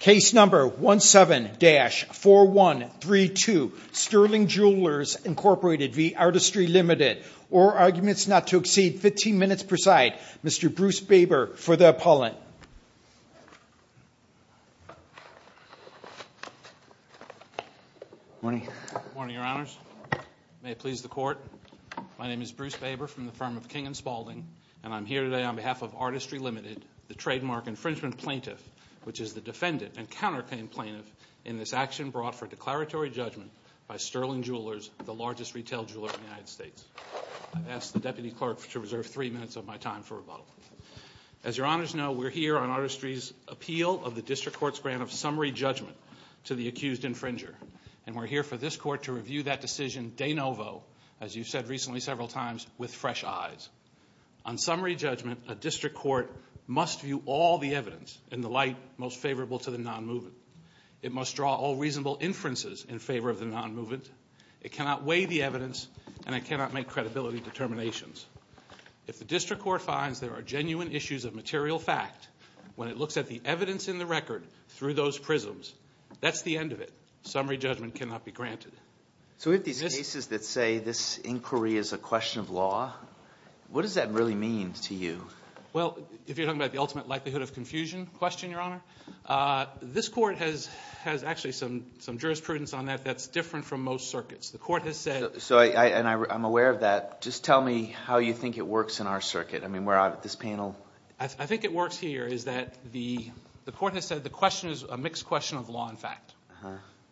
Case number 17-4132 Sterling Jewelers Incorporated v. Artistry Ltd. All arguments not to exceed 15 minutes per side. Mr. Bruce Baber for the appellant. Morning. Morning, Your Honors. May it please the Court. My name is Bruce Baber from the firm of King & Spaulding, and I'm here today on behalf of Artistry Ltd., the trademark infringement plaintiff, which is the defendant and counterclaim plaintiff, in this action brought for declaratory judgment by Sterling Jewelers, the largest retail jeweler in the United States. I've asked the Deputy Clerk to reserve three minutes of my time for rebuttal. As Your Honors know, we're here on Artistry's appeal of the District Court's grant of summary judgment to the accused infringer, and we're here for this Court to review that decision de novo, as you've said recently several times, with fresh eyes. On summary judgment, a District Court must view all the evidence in the light most favorable to the nonmovement. It must draw all reasonable inferences in favor of the nonmovement. It cannot weigh the evidence, and it cannot make credibility determinations. If the District Court finds there are genuine issues of material fact when it looks at the evidence in the record through those prisms, that's the end of it. Summary judgment cannot be granted. So we have these cases that say this inquiry is a question of law. What does that really mean to you? Well, if you're talking about the ultimate likelihood of confusion question, Your Honor, this Court has actually some jurisprudence on that that's different from most circuits. The Court has said— And I'm aware of that. Just tell me how you think it works in our circuit. I mean, we're out at this panel. I think it works here is that the Court has said the question is a mixed question of law and fact,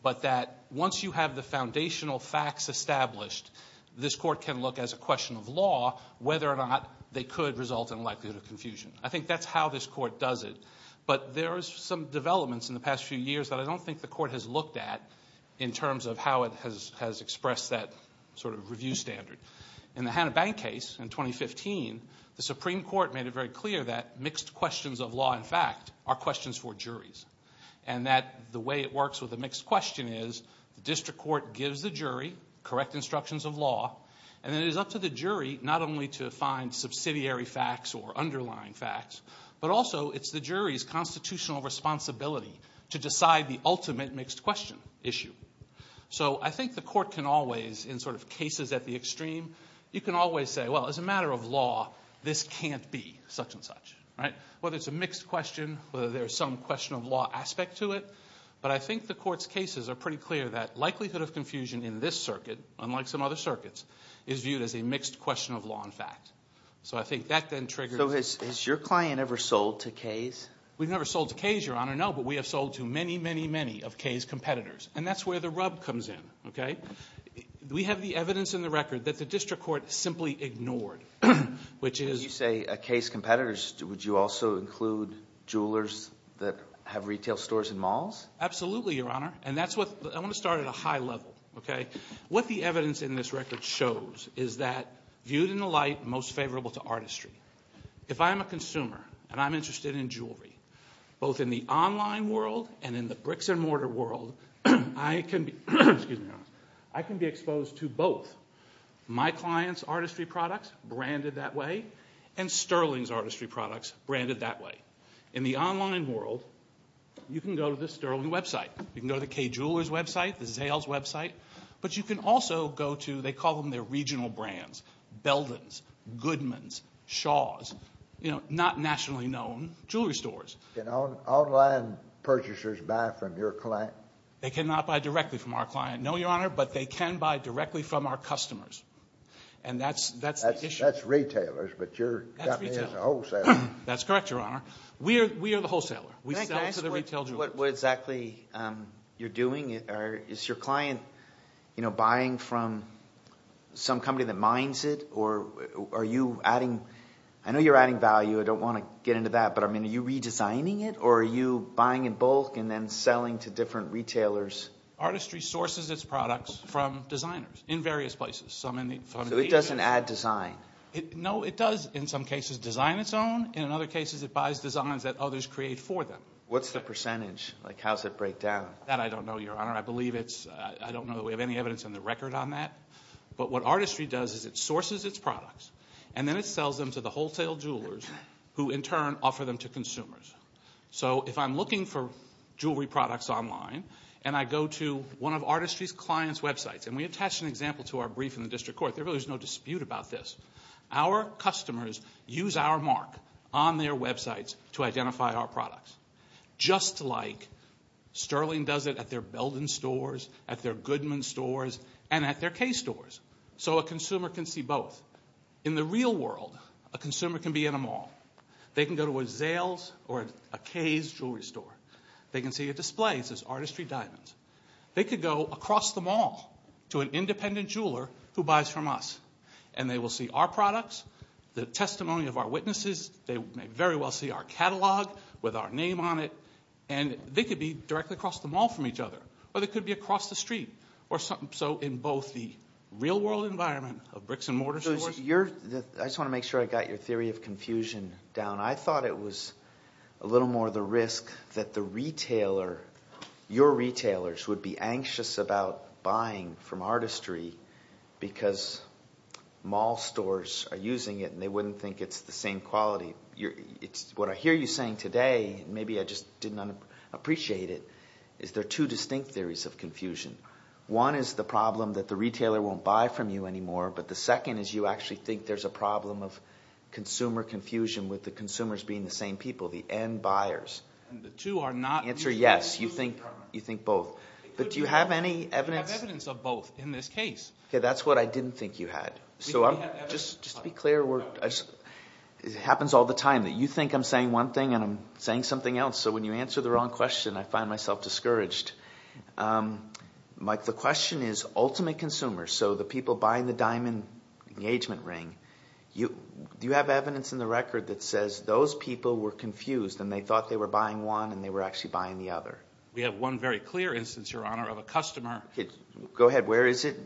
but that once you have the foundational facts established, this Court can look as a question of law whether or not they could result in likelihood of confusion. I think that's how this Court does it. But there are some developments in the past few years that I don't think the Court has looked at in terms of how it has expressed that sort of review standard. In the Hanna Bank case in 2015, the Supreme Court made it very clear that mixed questions of law and fact are questions for juries and that the way it works with a mixed question is the district court gives the jury correct instructions of law and it is up to the jury not only to find subsidiary facts or underlying facts, but also it's the jury's constitutional responsibility to decide the ultimate mixed question issue. So I think the Court can always, in sort of cases at the extreme, you can always say, well, as a matter of law, this can't be such and such, right? Whether it's a mixed question, whether there's some question of law aspect to it, but I think the Court's cases are pretty clear that likelihood of confusion in this circuit, unlike some other circuits, is viewed as a mixed question of law and fact. So I think that then triggers… So has your client ever sold to Kay's? We've never sold to Kay's, Your Honor, no, but we have sold to many, many, many of Kay's competitors and that's where the rub comes in, okay? We have the evidence in the record that the district court simply ignored, which is… When you say Kay's competitors, would you also include jewelers that have retail stores and malls? Absolutely, Your Honor, and that's what – I want to start at a high level, okay? What the evidence in this record shows is that, viewed in the light most favorable to artistry, both in the online world and in the bricks-and-mortar world, I can be exposed to both. My client's artistry products, branded that way, and Sterling's artistry products, branded that way. In the online world, you can go to the Sterling website. You can go to the Kay Jewelers website, the Zales website, but you can also go to – Can online purchasers buy from your client? They cannot buy directly from our client, no, Your Honor, but they can buy directly from our customers. And that's the issue. That's retailers, but you've got me as a wholesaler. That's correct, Your Honor. We are the wholesaler. Can I ask what exactly you're doing? Is your client buying from some company that mines it or are you adding – Are you designing it or are you buying in bulk and then selling to different retailers? Artistry sources its products from designers in various places, some in the – So it doesn't add design? No, it does in some cases design its own, and in other cases it buys designs that others create for them. What's the percentage? Like how does it break down? That I don't know, Your Honor. I believe it's – I don't know that we have any evidence in the record on that. But what artistry does is it sources its products, and then it sells them to the wholesale jewelers who, in turn, offer them to consumers. So if I'm looking for jewelry products online and I go to one of Artistry's clients' websites, and we attached an example to our brief in the district court, there really is no dispute about this. Our customers use our mark on their websites to identify our products, just like Sterling does it at their Belden stores, at their Goodman stores, and at their Kay stores. So a consumer can see both. In the real world, a consumer can be in a mall. They can go to a Zales or a Kay's jewelry store. They can see a display. It says Artistry Diamonds. They could go across the mall to an independent jeweler who buys from us, and they will see our products, the testimony of our witnesses. They may very well see our catalog with our name on it, and they could be directly across the mall from each other, or they could be across the street. So in both the real-world environment of bricks-and-mortar stores. I just want to make sure I got your theory of confusion down. I thought it was a little more the risk that the retailer, your retailers, would be anxious about buying from Artistry because mall stores are using it, and they wouldn't think it's the same quality. What I hear you saying today, and maybe I just didn't appreciate it, is there are two distinct theories of confusion. One is the problem that the retailer won't buy from you anymore, but the second is you actually think there's a problem of consumer confusion with the consumers being the same people, the end buyers. The answer is yes, you think both. But do you have any evidence? We have evidence of both in this case. Okay, that's what I didn't think you had. Just to be clear, it happens all the time that you think I'm saying one thing and I'm saying something else, so when you answer the wrong question, I find myself discouraged. Mike, the question is ultimate consumers, so the people buying the diamond engagement ring, do you have evidence in the record that says those people were confused and they thought they were buying one and they were actually buying the other? We have one very clear instance, Your Honor, of a customer. Go ahead. Where is it?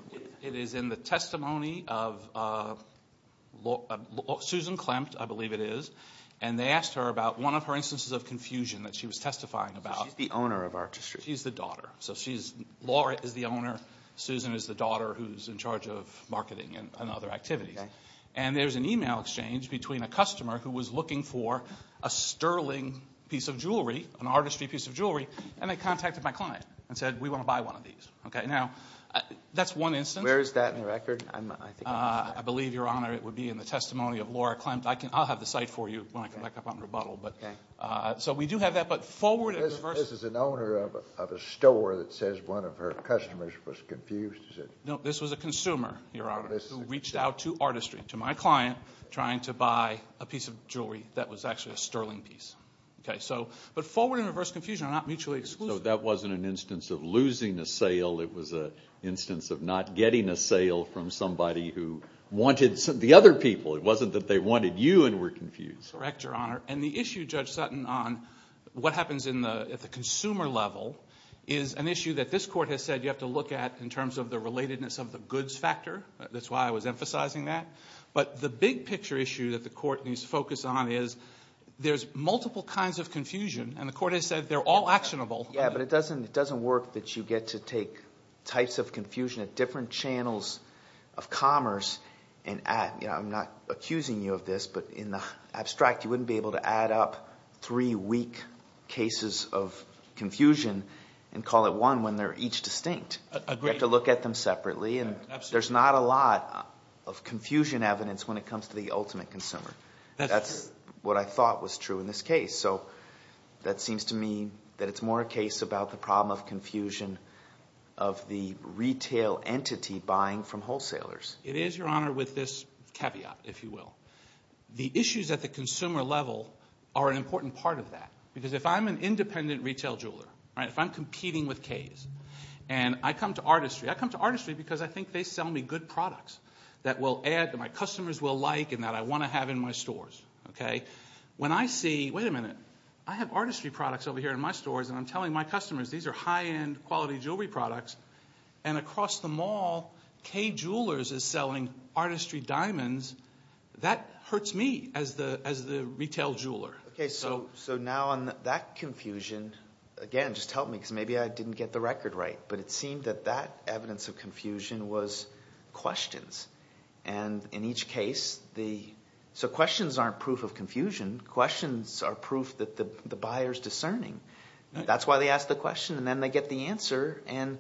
It is in the testimony of Susan Klempt, I believe it is, and they asked her about one of her instances of confusion that she was testifying about. So she's the owner of Artistry. She's the daughter. Laura is the owner, Susan is the daughter, who's in charge of marketing and other activities. And there's an email exchange between a customer who was looking for a sterling piece of jewelry, an Artistry piece of jewelry, and they contacted my client and said, we want to buy one of these. Now, that's one instance. Where is that in the record? I believe, Your Honor, it would be in the testimony of Laura Klempt. I'll have the site for you when I come back up on rebuttal. Okay. So we do have that, but forward and reverse. This is an owner of a store that says one of her customers was confused. No, this was a consumer, Your Honor, who reached out to Artistry, to my client, trying to buy a piece of jewelry that was actually a sterling piece. But forward and reverse confusion are not mutually exclusive. So that wasn't an instance of losing a sale. It was an instance of not getting a sale from somebody who wanted the other people. It wasn't that they wanted you and were confused. Correct, Your Honor. And the issue, Judge Sutton, on what happens at the consumer level is an issue that this Court has said you have to look at in terms of the relatedness of the goods factor. That's why I was emphasizing that. But the big picture issue that the Court needs to focus on is there's multiple kinds of confusion, and the Court has said they're all actionable. Yeah, but it doesn't work that you get to take types of confusion at different channels of commerce. I'm not accusing you of this, but in the abstract, you wouldn't be able to add up three weak cases of confusion and call it one when they're each distinct. Agreed. You have to look at them separately. Absolutely. There's not a lot of confusion evidence when it comes to the ultimate consumer. That's what I thought was true in this case. So that seems to me that it's more a case about the problem of confusion of the retail entity buying from wholesalers. It is, Your Honor, with this caveat, if you will. The issues at the consumer level are an important part of that because if I'm an independent retail jeweler, if I'm competing with Kay's, and I come to Artistry, I come to Artistry because I think they sell me good products that will add, that my customers will like, and that I want to have in my stores. When I see, wait a minute, I have Artistry products over here in my stores, and I'm telling my customers these are high-end, quality jewelry products, and across the mall Kay Jewelers is selling Artistry diamonds, that hurts me as the retail jeweler. Okay. So now on that confusion, again, just help me because maybe I didn't get the record right, but it seemed that that evidence of confusion was questions. And in each case, the questions aren't proof of confusion. Questions are proof that the buyer is discerning. That's why they ask the question, and then they get the answer, and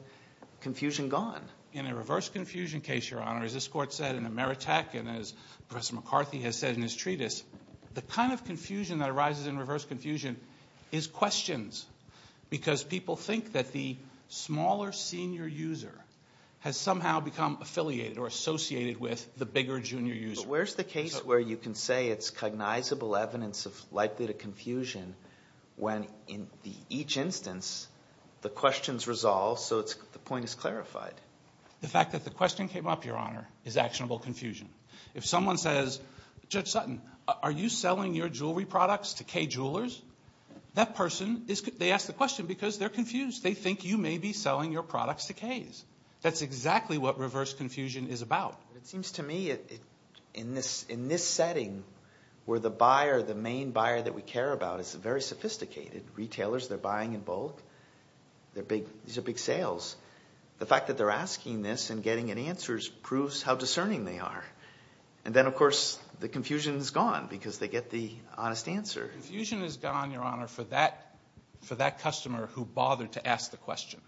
confusion gone. In a reverse confusion case, Your Honor, as this court said in Ameritech and as Professor McCarthy has said in his treatise, the kind of confusion that arises in reverse confusion is questions because people think that the smaller senior user has somehow become affiliated or associated with the bigger junior user. But where's the case where you can say it's cognizable evidence of likelihood of confusion when in each instance the question is resolved so the point is clarified? The fact that the question came up, Your Honor, is actionable confusion. If someone says, Judge Sutton, are you selling your jewelry products to Kay Jewelers? That person, they ask the question because they're confused. They think you may be selling your products to Kays. That's exactly what reverse confusion is about. It seems to me in this setting where the buyer, the main buyer that we care about, is a very sophisticated retailer. They're buying in bulk. These are big sales. The fact that they're asking this and getting an answer proves how discerning they are. And then, of course, the confusion is gone because they get the honest answer. Confusion is gone, Your Honor, for that customer who bothered to ask the question.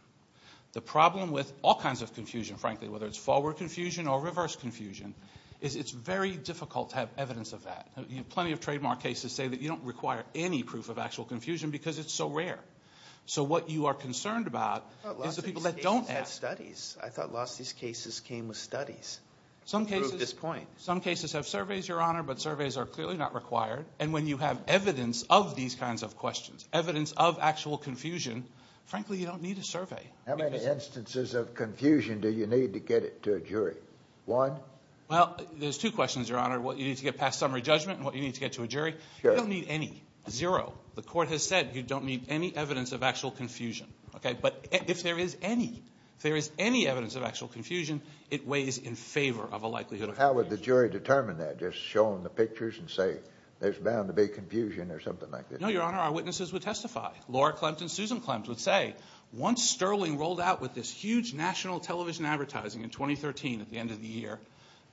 The problem with all kinds of confusion, frankly, whether it's forward confusion or reverse confusion, is it's very difficult to have evidence of that. Plenty of trademark cases say that you don't require any proof of actual confusion because it's so rare. So what you are concerned about is the people that don't ask. I thought lots of these cases had studies. I thought lots of these cases came with studies to prove this point. Some cases have surveys, Your Honor, but surveys are clearly not required. And when you have evidence of these kinds of questions, evidence of actual confusion, frankly, you don't need a survey. How many instances of confusion do you need to get it to a jury? One? Well, there's two questions, Your Honor, what you need to get past summary judgment and what you need to get to a jury. You don't need any. Zero. The court has said you don't need any evidence of actual confusion. But if there is any, if there is any evidence of actual confusion, it weighs in favor of a likelihood of confusion. How would the jury determine that? Just show them the pictures and say there's bound to be confusion or something like that? No, Your Honor, our witnesses would testify. Laura Klempt and Susan Klempt would say once Sterling rolled out with this huge national television advertising in 2013 at the end of the year,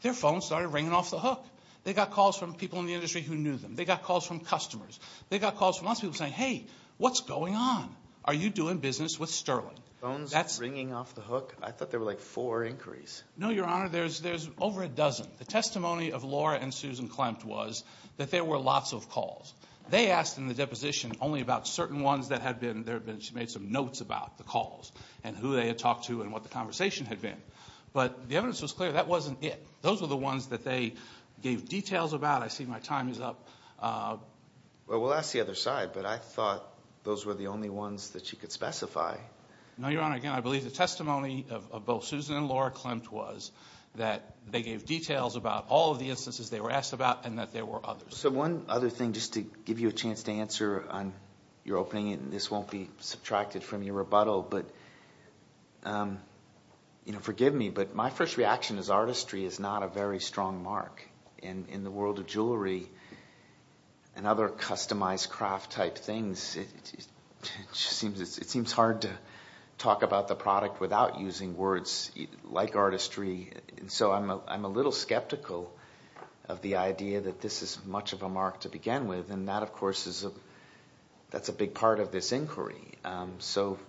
their phones started ringing off the hook. They got calls from people in the industry who knew them. They got calls from customers. They got calls from lots of people saying, hey, what's going on? Are you doing business with Sterling? Phones ringing off the hook? I thought there were like four inquiries. No, Your Honor, there's over a dozen. The testimony of Laura and Susan Klempt was that there were lots of calls. They asked in the deposition only about certain ones that had been there. She made some notes about the calls and who they had talked to and what the conversation had been. But the evidence was clear that wasn't it. Those were the ones that they gave details about. I see my time is up. Well, we'll ask the other side, but I thought those were the only ones that she could specify. No, Your Honor, again, I believe the testimony of both Susan and Laura Klempt was that they gave details about all of the instances they were asked about and that there were others. One other thing, just to give you a chance to answer on your opening, and this won't be subtracted from your rebuttal. Forgive me, but my first reaction is artistry is not a very strong mark. In the world of jewelry and other customized craft-type things, it seems hard to talk about the product without using words like artistry. So I'm a little skeptical of the idea that this is much of a mark to begin with, and that, of course, is a big part of this inquiry. So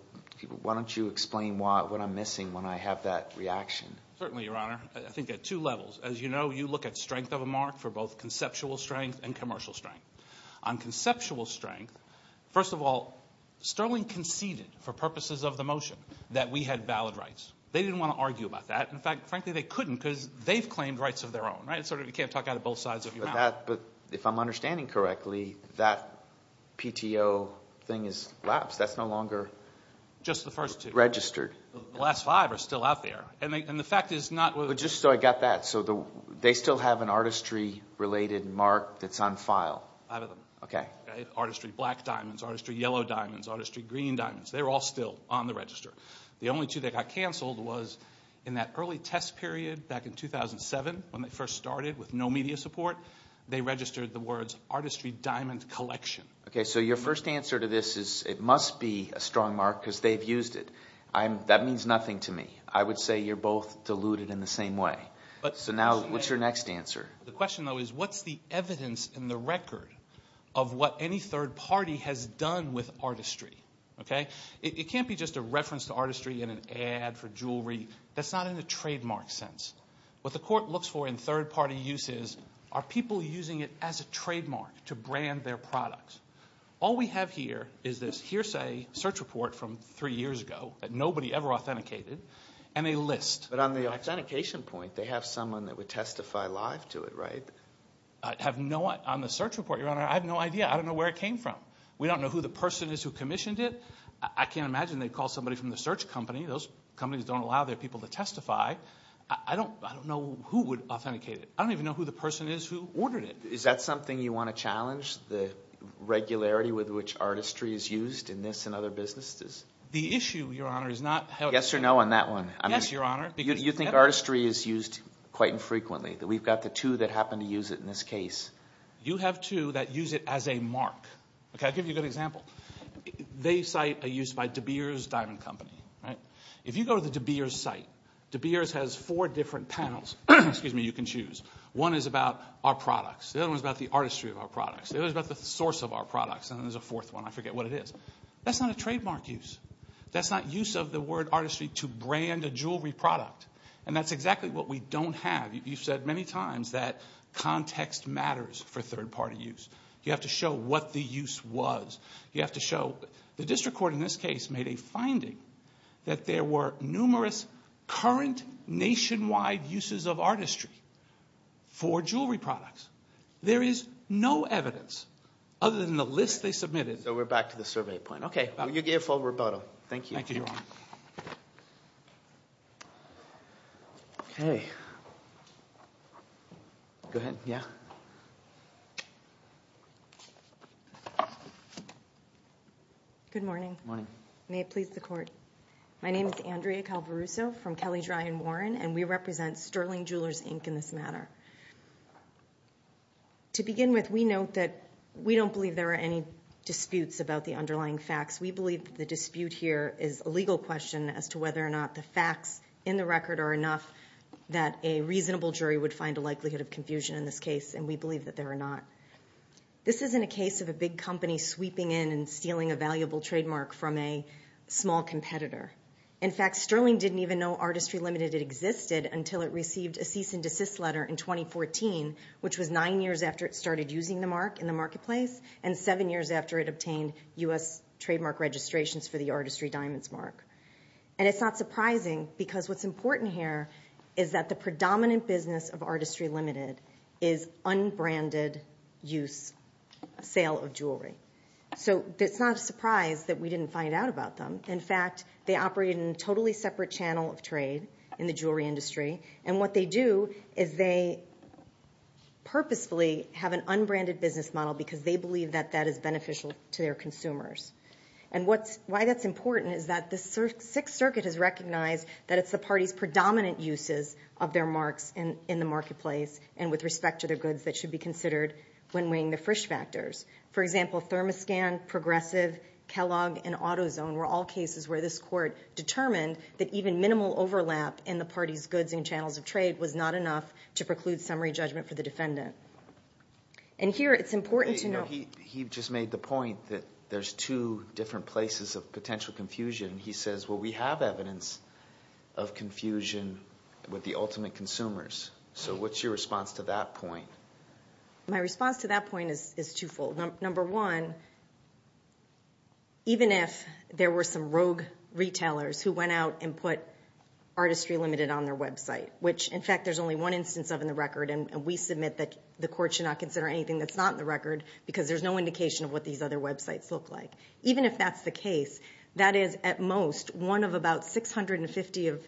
why don't you explain what I'm missing when I have that reaction? Certainly, Your Honor. I think at two levels. As you know, you look at strength of a mark for both conceptual strength and commercial strength. On conceptual strength, first of all, Sterling conceded for purposes of the motion that we had valid rights. They didn't want to argue about that. In fact, frankly, they couldn't because they've claimed rights of their own. You can't talk out of both sides of your mouth. But if I'm understanding correctly, that PTO thing has lapsed. That's no longer registered. Just the first two. The last five are still out there. Just so I got that, they still have an artistry-related mark that's on file? Five of them. Okay. Artistry black diamonds, artistry yellow diamonds, artistry green diamonds, they're all still on the register. The only two that got canceled was in that early test period back in 2007 when they first started with no media support. They registered the words artistry diamond collection. Okay. So your first answer to this is it must be a strong mark because they've used it. That means nothing to me. I would say you're both deluded in the same way. So now what's your next answer? The question, though, is what's the evidence in the record of what any third party has done with artistry? It can't be just a reference to artistry in an ad for jewelry. That's not in a trademark sense. What the court looks for in third party use is are people using it as a trademark to brand their products? All we have here is this hearsay search report from three years ago that nobody ever authenticated and a list. But on the authentication point, they have someone that would testify live to it, right? On the search report, Your Honor, I have no idea. I don't know where it came from. We don't know who the person is who commissioned it. I can't imagine they'd call somebody from the search company. Those companies don't allow their people to testify. I don't know who would authenticate it. I don't even know who the person is who ordered it. Is that something you want to challenge, the regularity with which artistry is used in this and other businesses? The issue, Your Honor, is not how it's used. Yes or no on that one. Yes, Your Honor. You think artistry is used quite infrequently. We've got the two that happen to use it in this case. You have two that use it as a mark. I'll give you a good example. They cite a use by De Beers Diamond Company. If you go to the De Beers site, De Beers has four different panels you can choose. One is about our products. The other one is about the artistry of our products. The other is about the source of our products. And then there's a fourth one. I forget what it is. That's not a trademark use. That's not use of the word artistry to brand a jewelry product. And that's exactly what we don't have. You've said many times that context matters for third-party use. You have to show what the use was. You have to show. The district court in this case made a finding that there were numerous current nationwide uses of artistry for jewelry products. There is no evidence other than the list they submitted. So we're back to the survey point. We'll give full rebuttal. Thank you. Thank you, Your Honor. Okay. Go ahead. Yeah. Good morning. Good morning. May it please the court. My name is Andrea Calveruso from Kelly Dry and Warren, and we represent Sterling Jewelers, Inc. in this matter. To begin with, we note that we don't believe there are any disputes about the underlying facts. We believe that the dispute here is a legal question. It's a legal question as to whether or not the facts in the record are enough that a reasonable jury would find a likelihood of confusion in this case, and we believe that there are not. This isn't a case of a big company sweeping in and stealing a valuable trademark from a small competitor. In fact, Sterling didn't even know Artistry Limited existed until it received a cease-and-desist letter in 2014, which was nine years after it started using the mark in the marketplace and seven years after it obtained U.S. trademark registrations for the Artistry Diamonds mark. And it's not surprising because what's important here is that the predominant business of Artistry Limited is unbranded-use sale of jewelry. So it's not a surprise that we didn't find out about them. In fact, they operate in a totally separate channel of trade in the jewelry industry, and what they do is they purposefully have an unbranded business model because they believe that that is beneficial to their consumers. And why that's important is that the Sixth Circuit has recognized that it's the party's predominant uses of their marks in the marketplace and with respect to their goods that should be considered when weighing the Frisch factors. For example, ThermoScan, Progressive, Kellogg, and AutoZone were all cases where this court determined that even minimal overlap in the party's goods and channels of trade was not enough to preclude summary judgment for the defendant. And here it's important to know- He just made the point that there's two different places of potential confusion. He says, well, we have evidence of confusion with the ultimate consumers. So what's your response to that point? My response to that point is twofold. Number one, even if there were some rogue retailers who went out and put Artistry Limited on their website, which, in fact, there's only one instance of in the record, and we submit that the court should not consider anything that's not in the record because there's no indication of what these other websites look like. Even if that's the case, that is, at most, one of about 650 of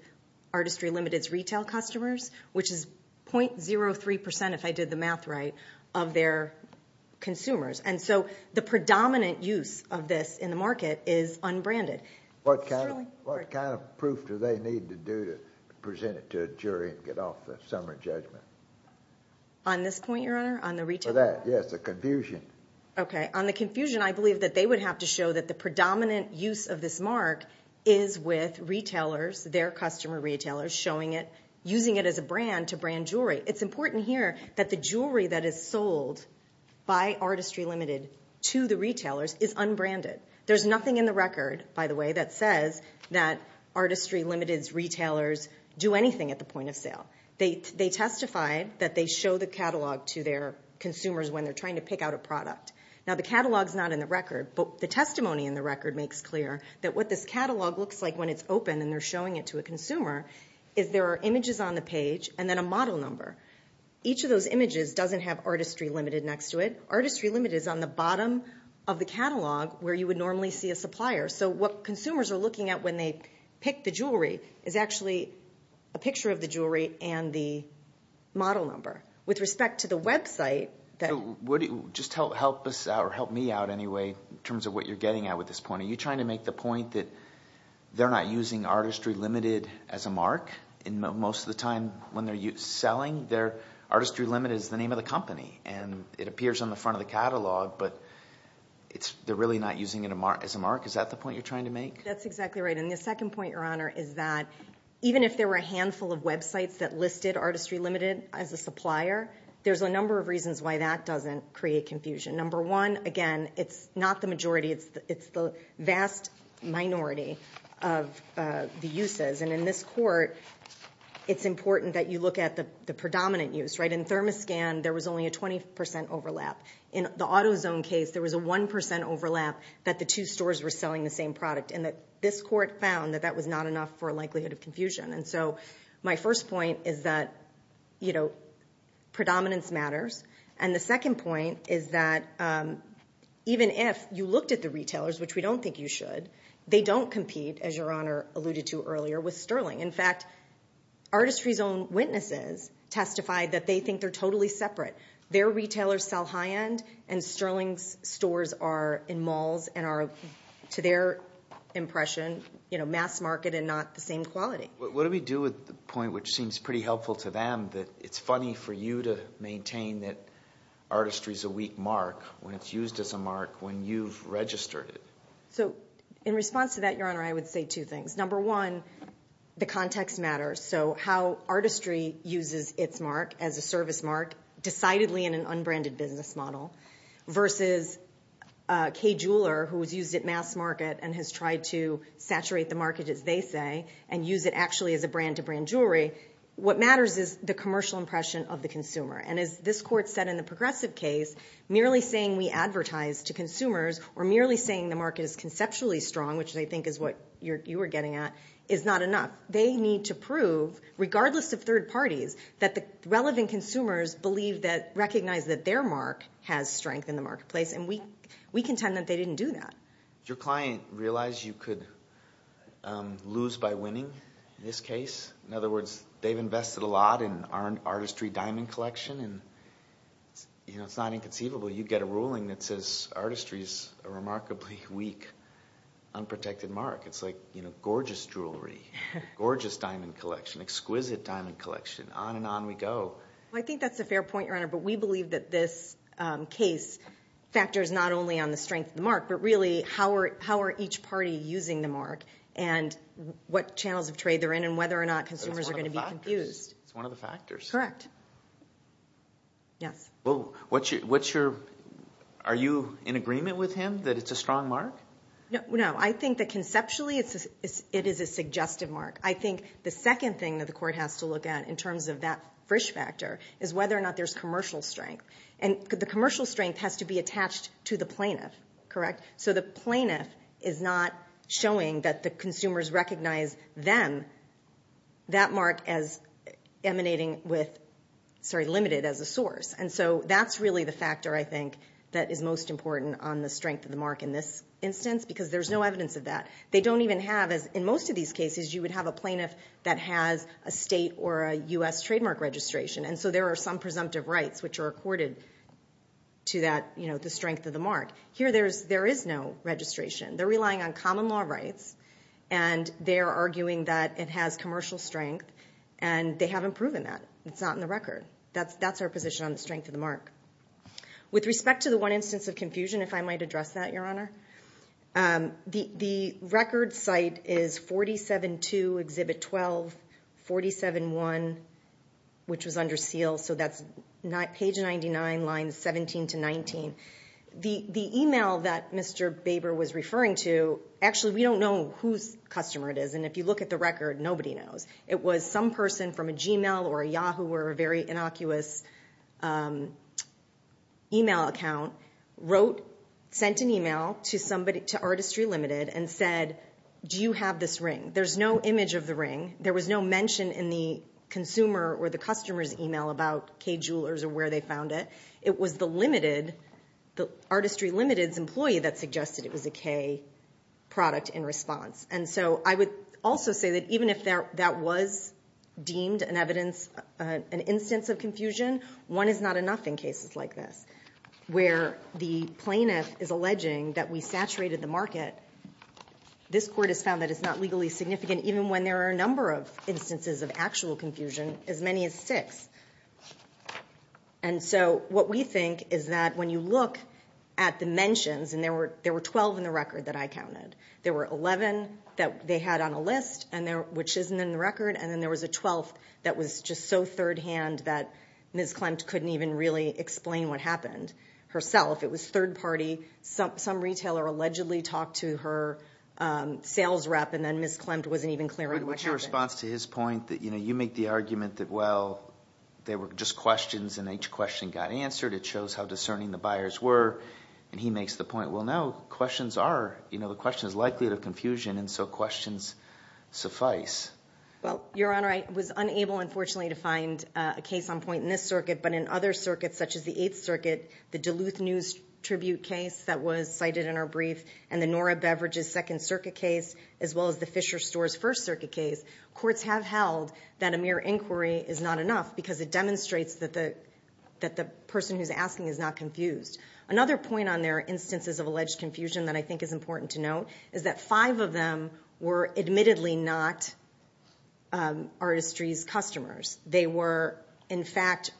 Artistry Limited's retail customers, which is 0.03%, if I did the math right, of their consumers. And so the predominant use of this in the market is unbranded. What kind of proof do they need to do to present it to a jury and get off the summary judgment? On this point, Your Honor, on the retail- For that, yes, the confusion. Okay. On the confusion, I believe that they would have to show that the predominant use of this mark is with retailers, their customer retailers, showing it, using it as a brand to brand jewelry. It's important here that the jewelry that is sold by Artistry Limited to the retailers is unbranded. There's nothing in the record, by the way, that says that Artistry Limited's retailers do anything at the point of sale. They testified that they show the catalog to their consumers when they're trying to pick out a product. The testimony in the record makes clear that what this catalog looks like when it's open and they're showing it to a consumer is there are images on the page and then a model number. Each of those images doesn't have Artistry Limited next to it. Artistry Limited is on the bottom of the catalog where you would normally see a supplier. So what consumers are looking at when they pick the jewelry is actually a picture of the jewelry and the model number. With respect to the website- Just help me out anyway in terms of what you're getting at with this point. Are you trying to make the point that they're not using Artistry Limited as a mark? Most of the time when they're selling, Artistry Limited is the name of the company. It appears on the front of the catalog, but they're really not using it as a mark. Is that the point you're trying to make? That's exactly right. The second point, Your Honor, is that even if there were a handful of websites that listed Artistry Limited as a supplier, there's a number of reasons why that doesn't create confusion. Number one, again, it's not the majority. It's the vast minority of the uses. And in this court, it's important that you look at the predominant use. In Thermoscan, there was only a 20% overlap. In the AutoZone case, there was a 1% overlap that the two stores were selling the same product and that this court found that that was not enough for a likelihood of confusion. And so my first point is that, you know, predominance matters. And the second point is that even if you looked at the retailers, which we don't think you should, they don't compete, as Your Honor alluded to earlier, with Sterling. In fact, Artistry's own witnesses testified that they think they're totally separate. Their retailers sell high end, and Sterling's stores are in malls and are, to their impression, you know, mass market and not the same quality. What do we do with the point, which seems pretty helpful to them, that it's funny for you to maintain that Artistry's a weak mark when it's used as a mark when you've registered it? So in response to that, Your Honor, I would say two things. Number one, the context matters. So how Artistry uses its mark as a service mark decidedly in an unbranded business model versus Kay Jeweler, who was used at mass market and has tried to saturate the market, as they say, and use it actually as a brand-to-brand jewelry. What matters is the commercial impression of the consumer. And as this Court said in the progressive case, merely saying we advertise to consumers or merely saying the market is conceptually strong, which I think is what you were getting at, is not enough. They need to prove, regardless of third parties, that the relevant consumers believe that recognize that their mark has strength in the marketplace, and we contend that they didn't do that. Does your client realize you could lose by winning in this case? In other words, they've invested a lot in Artistry diamond collection, and, you know, it's not inconceivable. You'd get a ruling that says Artistry's a remarkably weak, unprotected mark. It's like, you know, gorgeous jewelry, gorgeous diamond collection, exquisite diamond collection. On and on we go. I think that's a fair point, Your Honor, but we believe that this case factors not only on the strength of the mark, but really how are each party using the mark and what channels of trade they're in and whether or not consumers are going to be confused. It's one of the factors. Correct. Yes. Well, are you in agreement with him that it's a strong mark? No. I think that conceptually it is a suggestive mark. I think the second thing that the court has to look at in terms of that Frisch factor is whether or not there's commercial strength. And the commercial strength has to be attached to the plaintiff. Correct? So the plaintiff is not showing that the consumers recognize them, that mark, as emanating with, sorry, limited as a source. And so that's really the factor, I think, that is most important on the strength of the mark in this instance, because there's no evidence of that. They don't even have, in most of these cases, you would have a plaintiff that has a state or a U.S. trademark registration. And so there are some presumptive rights which are accorded to that, you know, the strength of the mark. Here there is no registration. They're relying on common law rights, and they're arguing that it has commercial strength, and they haven't proven that. It's not in the record. That's our position on the strength of the mark. With respect to the one instance of confusion, if I might address that, Your Honor, the record site is 47-2, Exhibit 12, 47-1, which was under seal. So that's page 99, lines 17 to 19. The email that Mr. Baber was referring to, actually we don't know whose customer it is, and if you look at the record, nobody knows. It was some person from a Gmail or a Yahoo or a very innocuous email account, wrote, sent an email to Artistry Limited and said, do you have this ring? There's no image of the ring. There was no mention in the consumer or the customer's email about Kay Jewelers or where they found it. It was the limited, the Artistry Limited's employee that suggested it was a Kay product in response. And so I would also say that even if that was deemed an evidence, an instance of confusion, one is not enough in cases like this where the plaintiff is alleging that we saturated the market. This court has found that it's not legally significant, even when there are a number of instances of actual confusion, as many as six. And so what we think is that when you look at the mentions, and there were 12 in the record that I counted. There were 11 that they had on a list, which isn't in the record, and then there was a 12th that was just so third-hand that Ms. Klempt couldn't even really explain what happened herself. It was third-party. Some retailer allegedly talked to her sales rep, and then Ms. Klempt wasn't even clear on what happened. What's your response to his point that, you know, you make the argument that, well, they were just questions, and each question got answered. It shows how discerning the buyers were. And he makes the point, well, no, questions are, you know, the question is likely to confusion, and so questions suffice. Well, Your Honor, I was unable, unfortunately, to find a case on point in this circuit, but in other circuits, such as the Eighth Circuit, the Duluth News Tribute case that was cited in our brief, and the Nora Beveridge's Second Circuit case, as well as the Fisher Store's First Circuit case, courts have held that a mere inquiry is not enough because it demonstrates that the person who's asking is not confused. Another point on their instances of alleged confusion that I think is important to note is that five of them were, admittedly, not Artistry's customers. They were, in fact,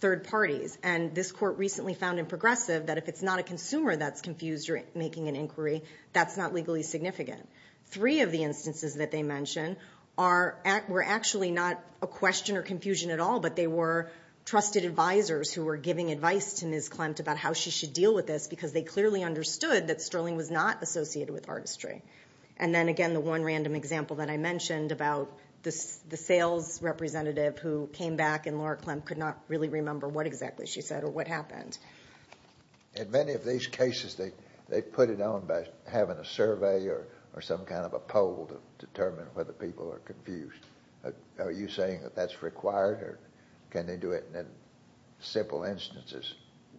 third parties. And this court recently found in Progressive that if it's not a consumer that's confused during making an inquiry, that's not legally significant. Three of the instances that they mention were actually not a question or confusion at all, but they were trusted advisors who were giving advice to Ms. Klemt about how she should deal with this because they clearly understood that Sterling was not associated with Artistry. And then, again, the one random example that I mentioned about the sales representative who came back and Laura Klemt could not really remember what exactly she said or what happened. In many of these cases, they put it on by having a survey or some kind of a poll to determine whether people are confused. Are you saying that that's required or can they do it in simple instances?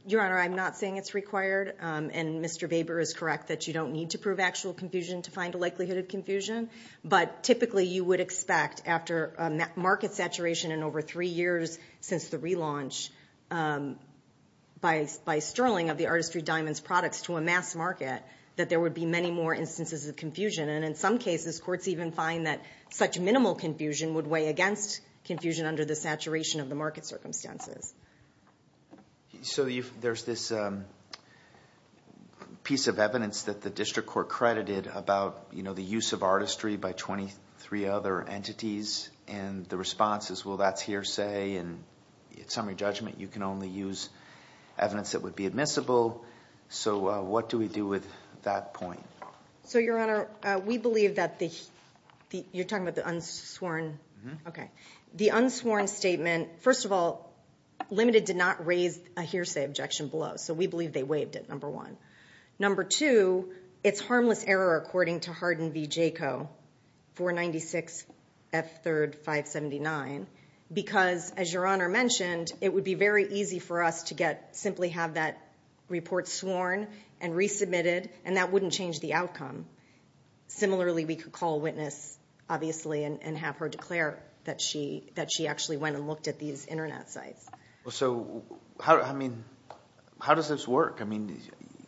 Your Honor, I'm not saying it's required, and Mr. Weber is correct that you don't need to prove actual confusion to find a likelihood of confusion. But typically, you would expect after market saturation in over three years since the relaunch, by Sterling of the Artistry Diamonds products to amass market, that there would be many more instances of confusion. And in some cases, courts even find that such minimal confusion would weigh against confusion under the saturation of the market circumstances. So there's this piece of evidence that the district court credited about the use of artistry by 23 other entities, and the response is, well, that's hearsay, and it's summary judgment. You can only use evidence that would be admissible. So what do we do with that point? So, Your Honor, we believe that the unsworn statement, first of all, Limited did not raise a hearsay objection below, so we believe they waived it, number one. Number two, it's harmless error according to Hardin v. Jaco, 496 F3rd 579, because, as Your Honor mentioned, it would be very easy for us to simply have that report sworn and resubmitted, and that wouldn't change the outcome. Similarly, we could call a witness, obviously, and have her declare that she actually went and looked at these Internet sites. So, I mean, how does this work? I mean,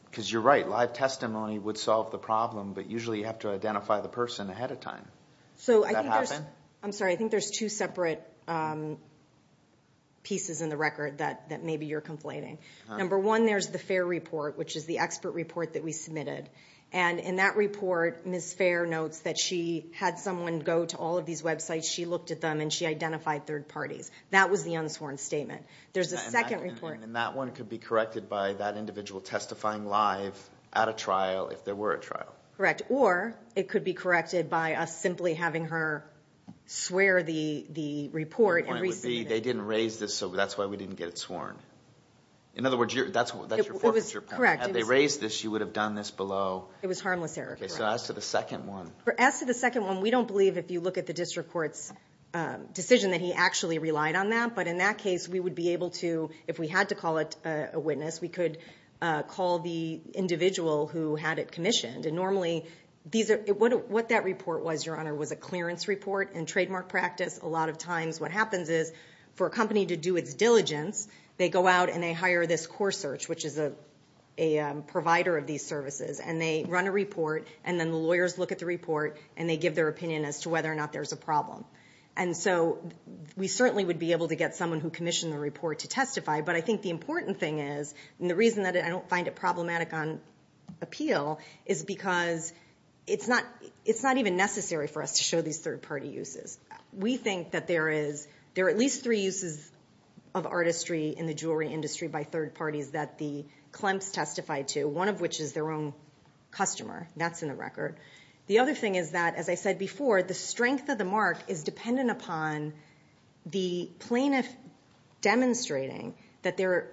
because you're right, live testimony would solve the problem, but usually you have to identify the person ahead of time. So I think there's two separate pieces in the record that maybe you're conflating. Number one, there's the FAIR report, which is the expert report that we submitted, and in that report, Ms. FAIR notes that she had someone go to all of these websites, she looked at them, and she identified third parties. That was the unsworn statement. There's a second report. And that one could be corrected by that individual testifying live at a trial if there were a trial. Correct, or it could be corrected by us simply having her swear the report and resubmit it. They didn't raise this, so that's why we didn't get it sworn. In other words, that's your forfeiture point. Correct. Had they raised this, you would have done this below. It was harmless error. Okay, so as to the second one. As to the second one, we don't believe, if you look at the district court's decision, that he actually relied on that. But in that case, we would be able to, if we had to call a witness, we could call the individual who had it commissioned. And normally, what that report was, Your Honor, was a clearance report. In trademark practice, a lot of times what happens is for a company to do its diligence, they go out and they hire this core search, which is a provider of these services. And they run a report, and then the lawyers look at the report, and they give their opinion as to whether or not there's a problem. And so we certainly would be able to get someone who commissioned the report to testify. But I think the important thing is, and the reason that I don't find it problematic on appeal, is because it's not even necessary for us to show these third-party uses. We think that there are at least three uses of artistry in the jewelry industry by third parties that the clemps testified to, one of which is their own customer. That's in the record. The other thing is that, as I said before, the strength of the mark is dependent upon the plaintiff demonstrating that their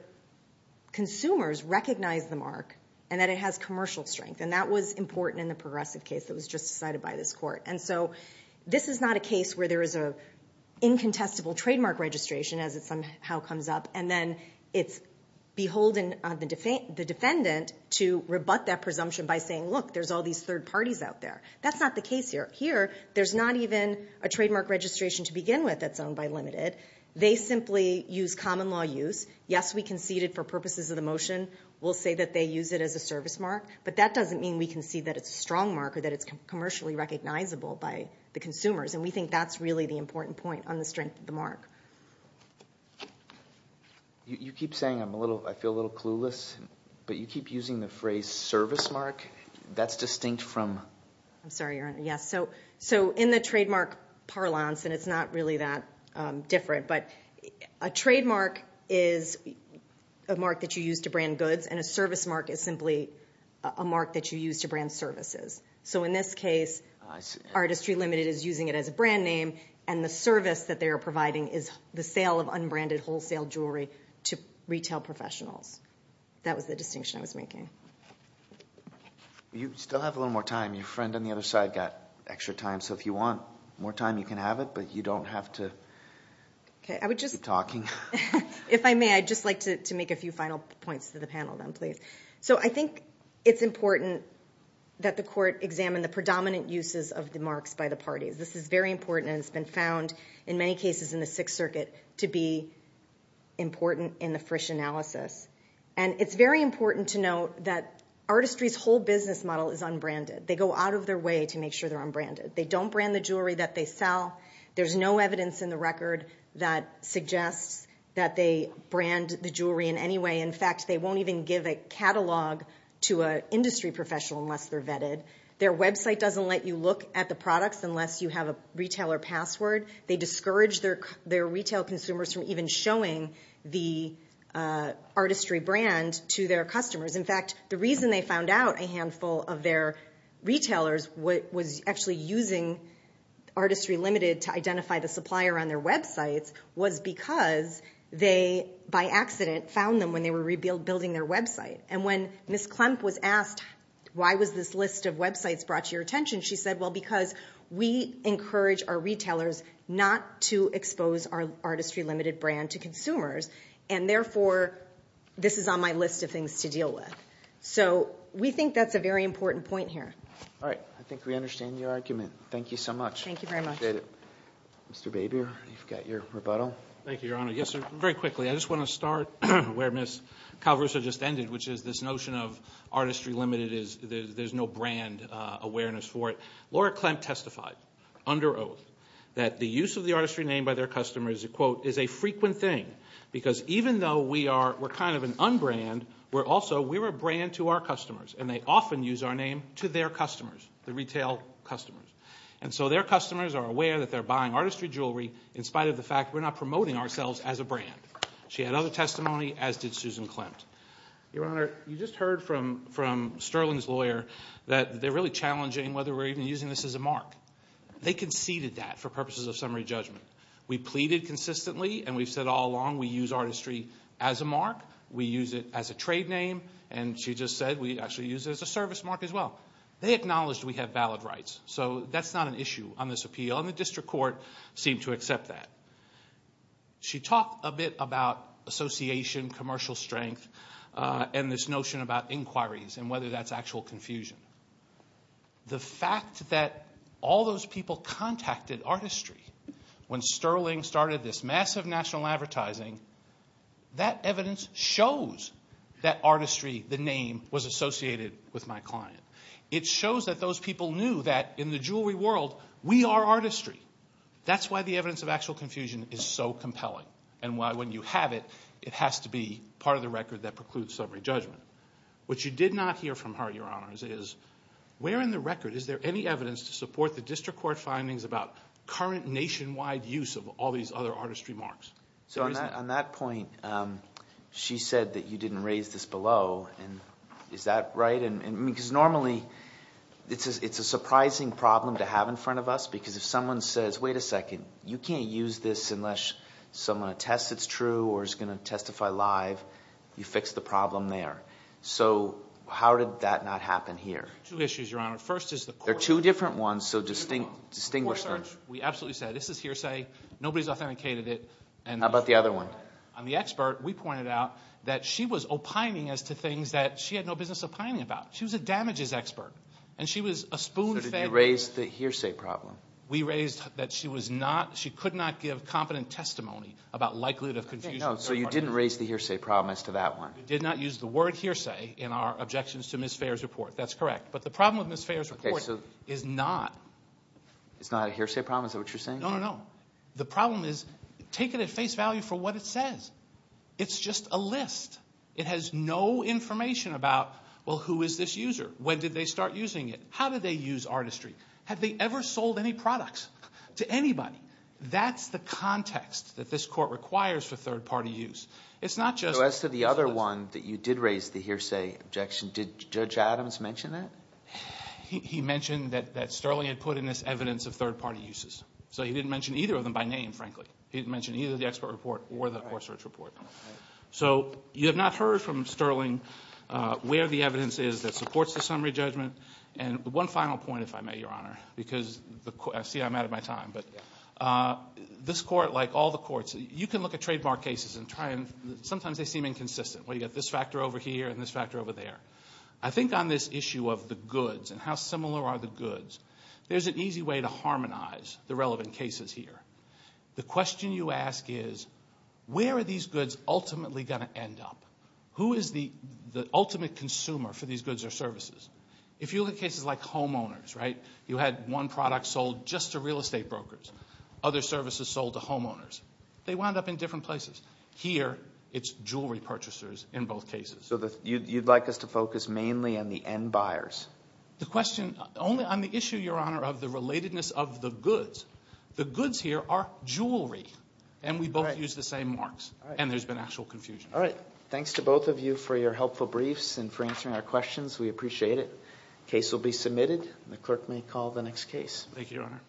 consumers recognize the mark and that it has commercial strength. And that was important in the Progressive case that was just decided by this Court. And so this is not a case where there is an incontestable trademark registration as it somehow comes up, and then it's beholden on the defendant to rebut that presumption by saying, look, there's all these third parties out there. That's not the case here. Here, there's not even a trademark registration to begin with that's owned by Limited. They simply use common law use. Yes, we conceded for purposes of the motion. We'll say that they use it as a service mark, but that doesn't mean we concede that it's a strong mark or that it's commercially recognizable by the consumers. And we think that's really the important point on the strength of the mark. You keep saying I feel a little clueless, but you keep using the phrase service mark. That's distinct from? I'm sorry, Your Honor. Yes, so in the trademark parlance, and it's not really that different, but a trademark is a mark that you use to brand goods, and a service mark is simply a mark that you use to brand services. So in this case, Artistry Limited is using it as a brand name, and the service that they are providing is the sale of unbranded wholesale jewelry to retail professionals. That was the distinction I was making. You still have a little more time. Your friend on the other side got extra time, so if you want more time, you can have it, but you don't have to keep talking. If I may, I'd just like to make a few final points to the panel then, please. So I think it's important that the court examine the predominant uses of the marks by the parties. This is very important, and it's been found in many cases in the Sixth Circuit to be important in the Frisch analysis. And it's very important to note that Artistry's whole business model is unbranded. They go out of their way to make sure they're unbranded. They don't brand the jewelry that they sell. There's no evidence in the record that suggests that they brand the jewelry in any way. In fact, they won't even give a catalog to an industry professional unless they're vetted. Their website doesn't let you look at the products unless you have a retailer password. They discourage their retail consumers from even showing the Artistry brand to their customers. In fact, the reason they found out a handful of their retailers was actually using Artistry Limited to identify the supplier on their websites was because they, by accident, found them when they were rebuilding their website. And when Ms. Klempp was asked why was this list of websites brought to your attention, she said, well, because we encourage our retailers not to expose our Artistry Limited brand to consumers. And therefore, this is on my list of things to deal with. So we think that's a very important point here. All right. I think we understand your argument. Thank you so much. Thank you very much. Mr. Babier, you've got your rebuttal. Thank you, Your Honor. Yes, sir. Very quickly, I just want to start where Ms. Calaversa just ended, which is this notion of Artistry Limited, there's no brand awareness for it. Laura Klempp testified under oath that the use of the Artistry name by their customers, quote, is a frequent thing because even though we're kind of an unbrand, we're also a brand to our customers, and they often use our name to their customers, the retail customers. And so their customers are aware that they're buying Artistry jewelry in spite of the fact we're not promoting ourselves as a brand. She had other testimony, as did Susan Klempp. Your Honor, you just heard from Sterling's lawyer that they're really challenging whether we're even using this as a mark. They conceded that for purposes of summary judgment. We pleaded consistently, and we've said all along we use Artistry as a mark. We use it as a trade name, and she just said we actually use it as a service mark as well. They acknowledged we have valid rights, so that's not an issue on this appeal, and the district court seemed to accept that. She talked a bit about association, commercial strength, and this notion about inquiries and whether that's actual confusion. The fact that all those people contacted Artistry when Sterling started this massive national advertising, that evidence shows that Artistry, the name, was associated with my client. It shows that those people knew that in the jewelry world, we are Artistry. That's why the evidence of actual confusion is so compelling, and why when you have it, it has to be part of the record that precludes summary judgment. What you did not hear from her, Your Honors, is where in the record is there any evidence to support the district court findings about current nationwide use of all these other Artistry marks? So on that point, she said that you didn't raise this below, and is that right? Because normally, it's a surprising problem to have in front of us, because if someone says, wait a second, you can't use this unless someone attests it's true or is going to testify live, you fix the problem there. So how did that not happen here? Two issues, Your Honor. First is the court search. There are two different ones, so distinguish them. The court search, we absolutely said, this is hearsay. Nobody's authenticated it. How about the other one? On the expert, we pointed out that she was opining as to things that she had no business opining about. She was a damages expert, and she was a spoon fed. So did you raise the hearsay problem? We raised that she could not give competent testimony about likelihood of confusion. So you didn't raise the hearsay problem as to that one? We did not use the word hearsay in our objections to Ms. Fair's report. That's correct, but the problem with Ms. Fair's report is not. It's not a hearsay problem? Is that what you're saying? No, no, no. The problem is, take it at face value for what it says. It's just a list. It has no information about, well, who is this user? When did they start using it? How did they use artistry? Have they ever sold any products to anybody? That's the context that this court requires for third-party use. It's not just— So as to the other one that you did raise the hearsay objection, did Judge Adams mention that? He mentioned that Sterling had put in this evidence of third-party uses. So he didn't mention either of them by name, frankly. He didn't mention either the expert report or the court search report. So you have not heard from Sterling where the evidence is that supports the summary judgment. And one final point, if I may, Your Honor, because I see I'm out of my time, but this court, like all the courts, you can look at trademark cases and try and—sometimes they seem inconsistent, where you've got this factor over here and this factor over there. I think on this issue of the goods and how similar are the goods, there's an easy way to harmonize the relevant cases here. The question you ask is where are these goods ultimately going to end up? Who is the ultimate consumer for these goods or services? If you look at cases like homeowners, right, you had one product sold just to real estate brokers. Other services sold to homeowners. They wound up in different places. Here it's jewelry purchasers in both cases. So you'd like us to focus mainly on the end buyers? The question—only on the issue, Your Honor, of the relatedness of the goods. The goods here are jewelry, and we both use the same marks, and there's been actual confusion. All right. Thanks to both of you for your helpful briefs and for answering our questions. We appreciate it. Case will be submitted, and the clerk may call the next case. Thank you, Your Honor.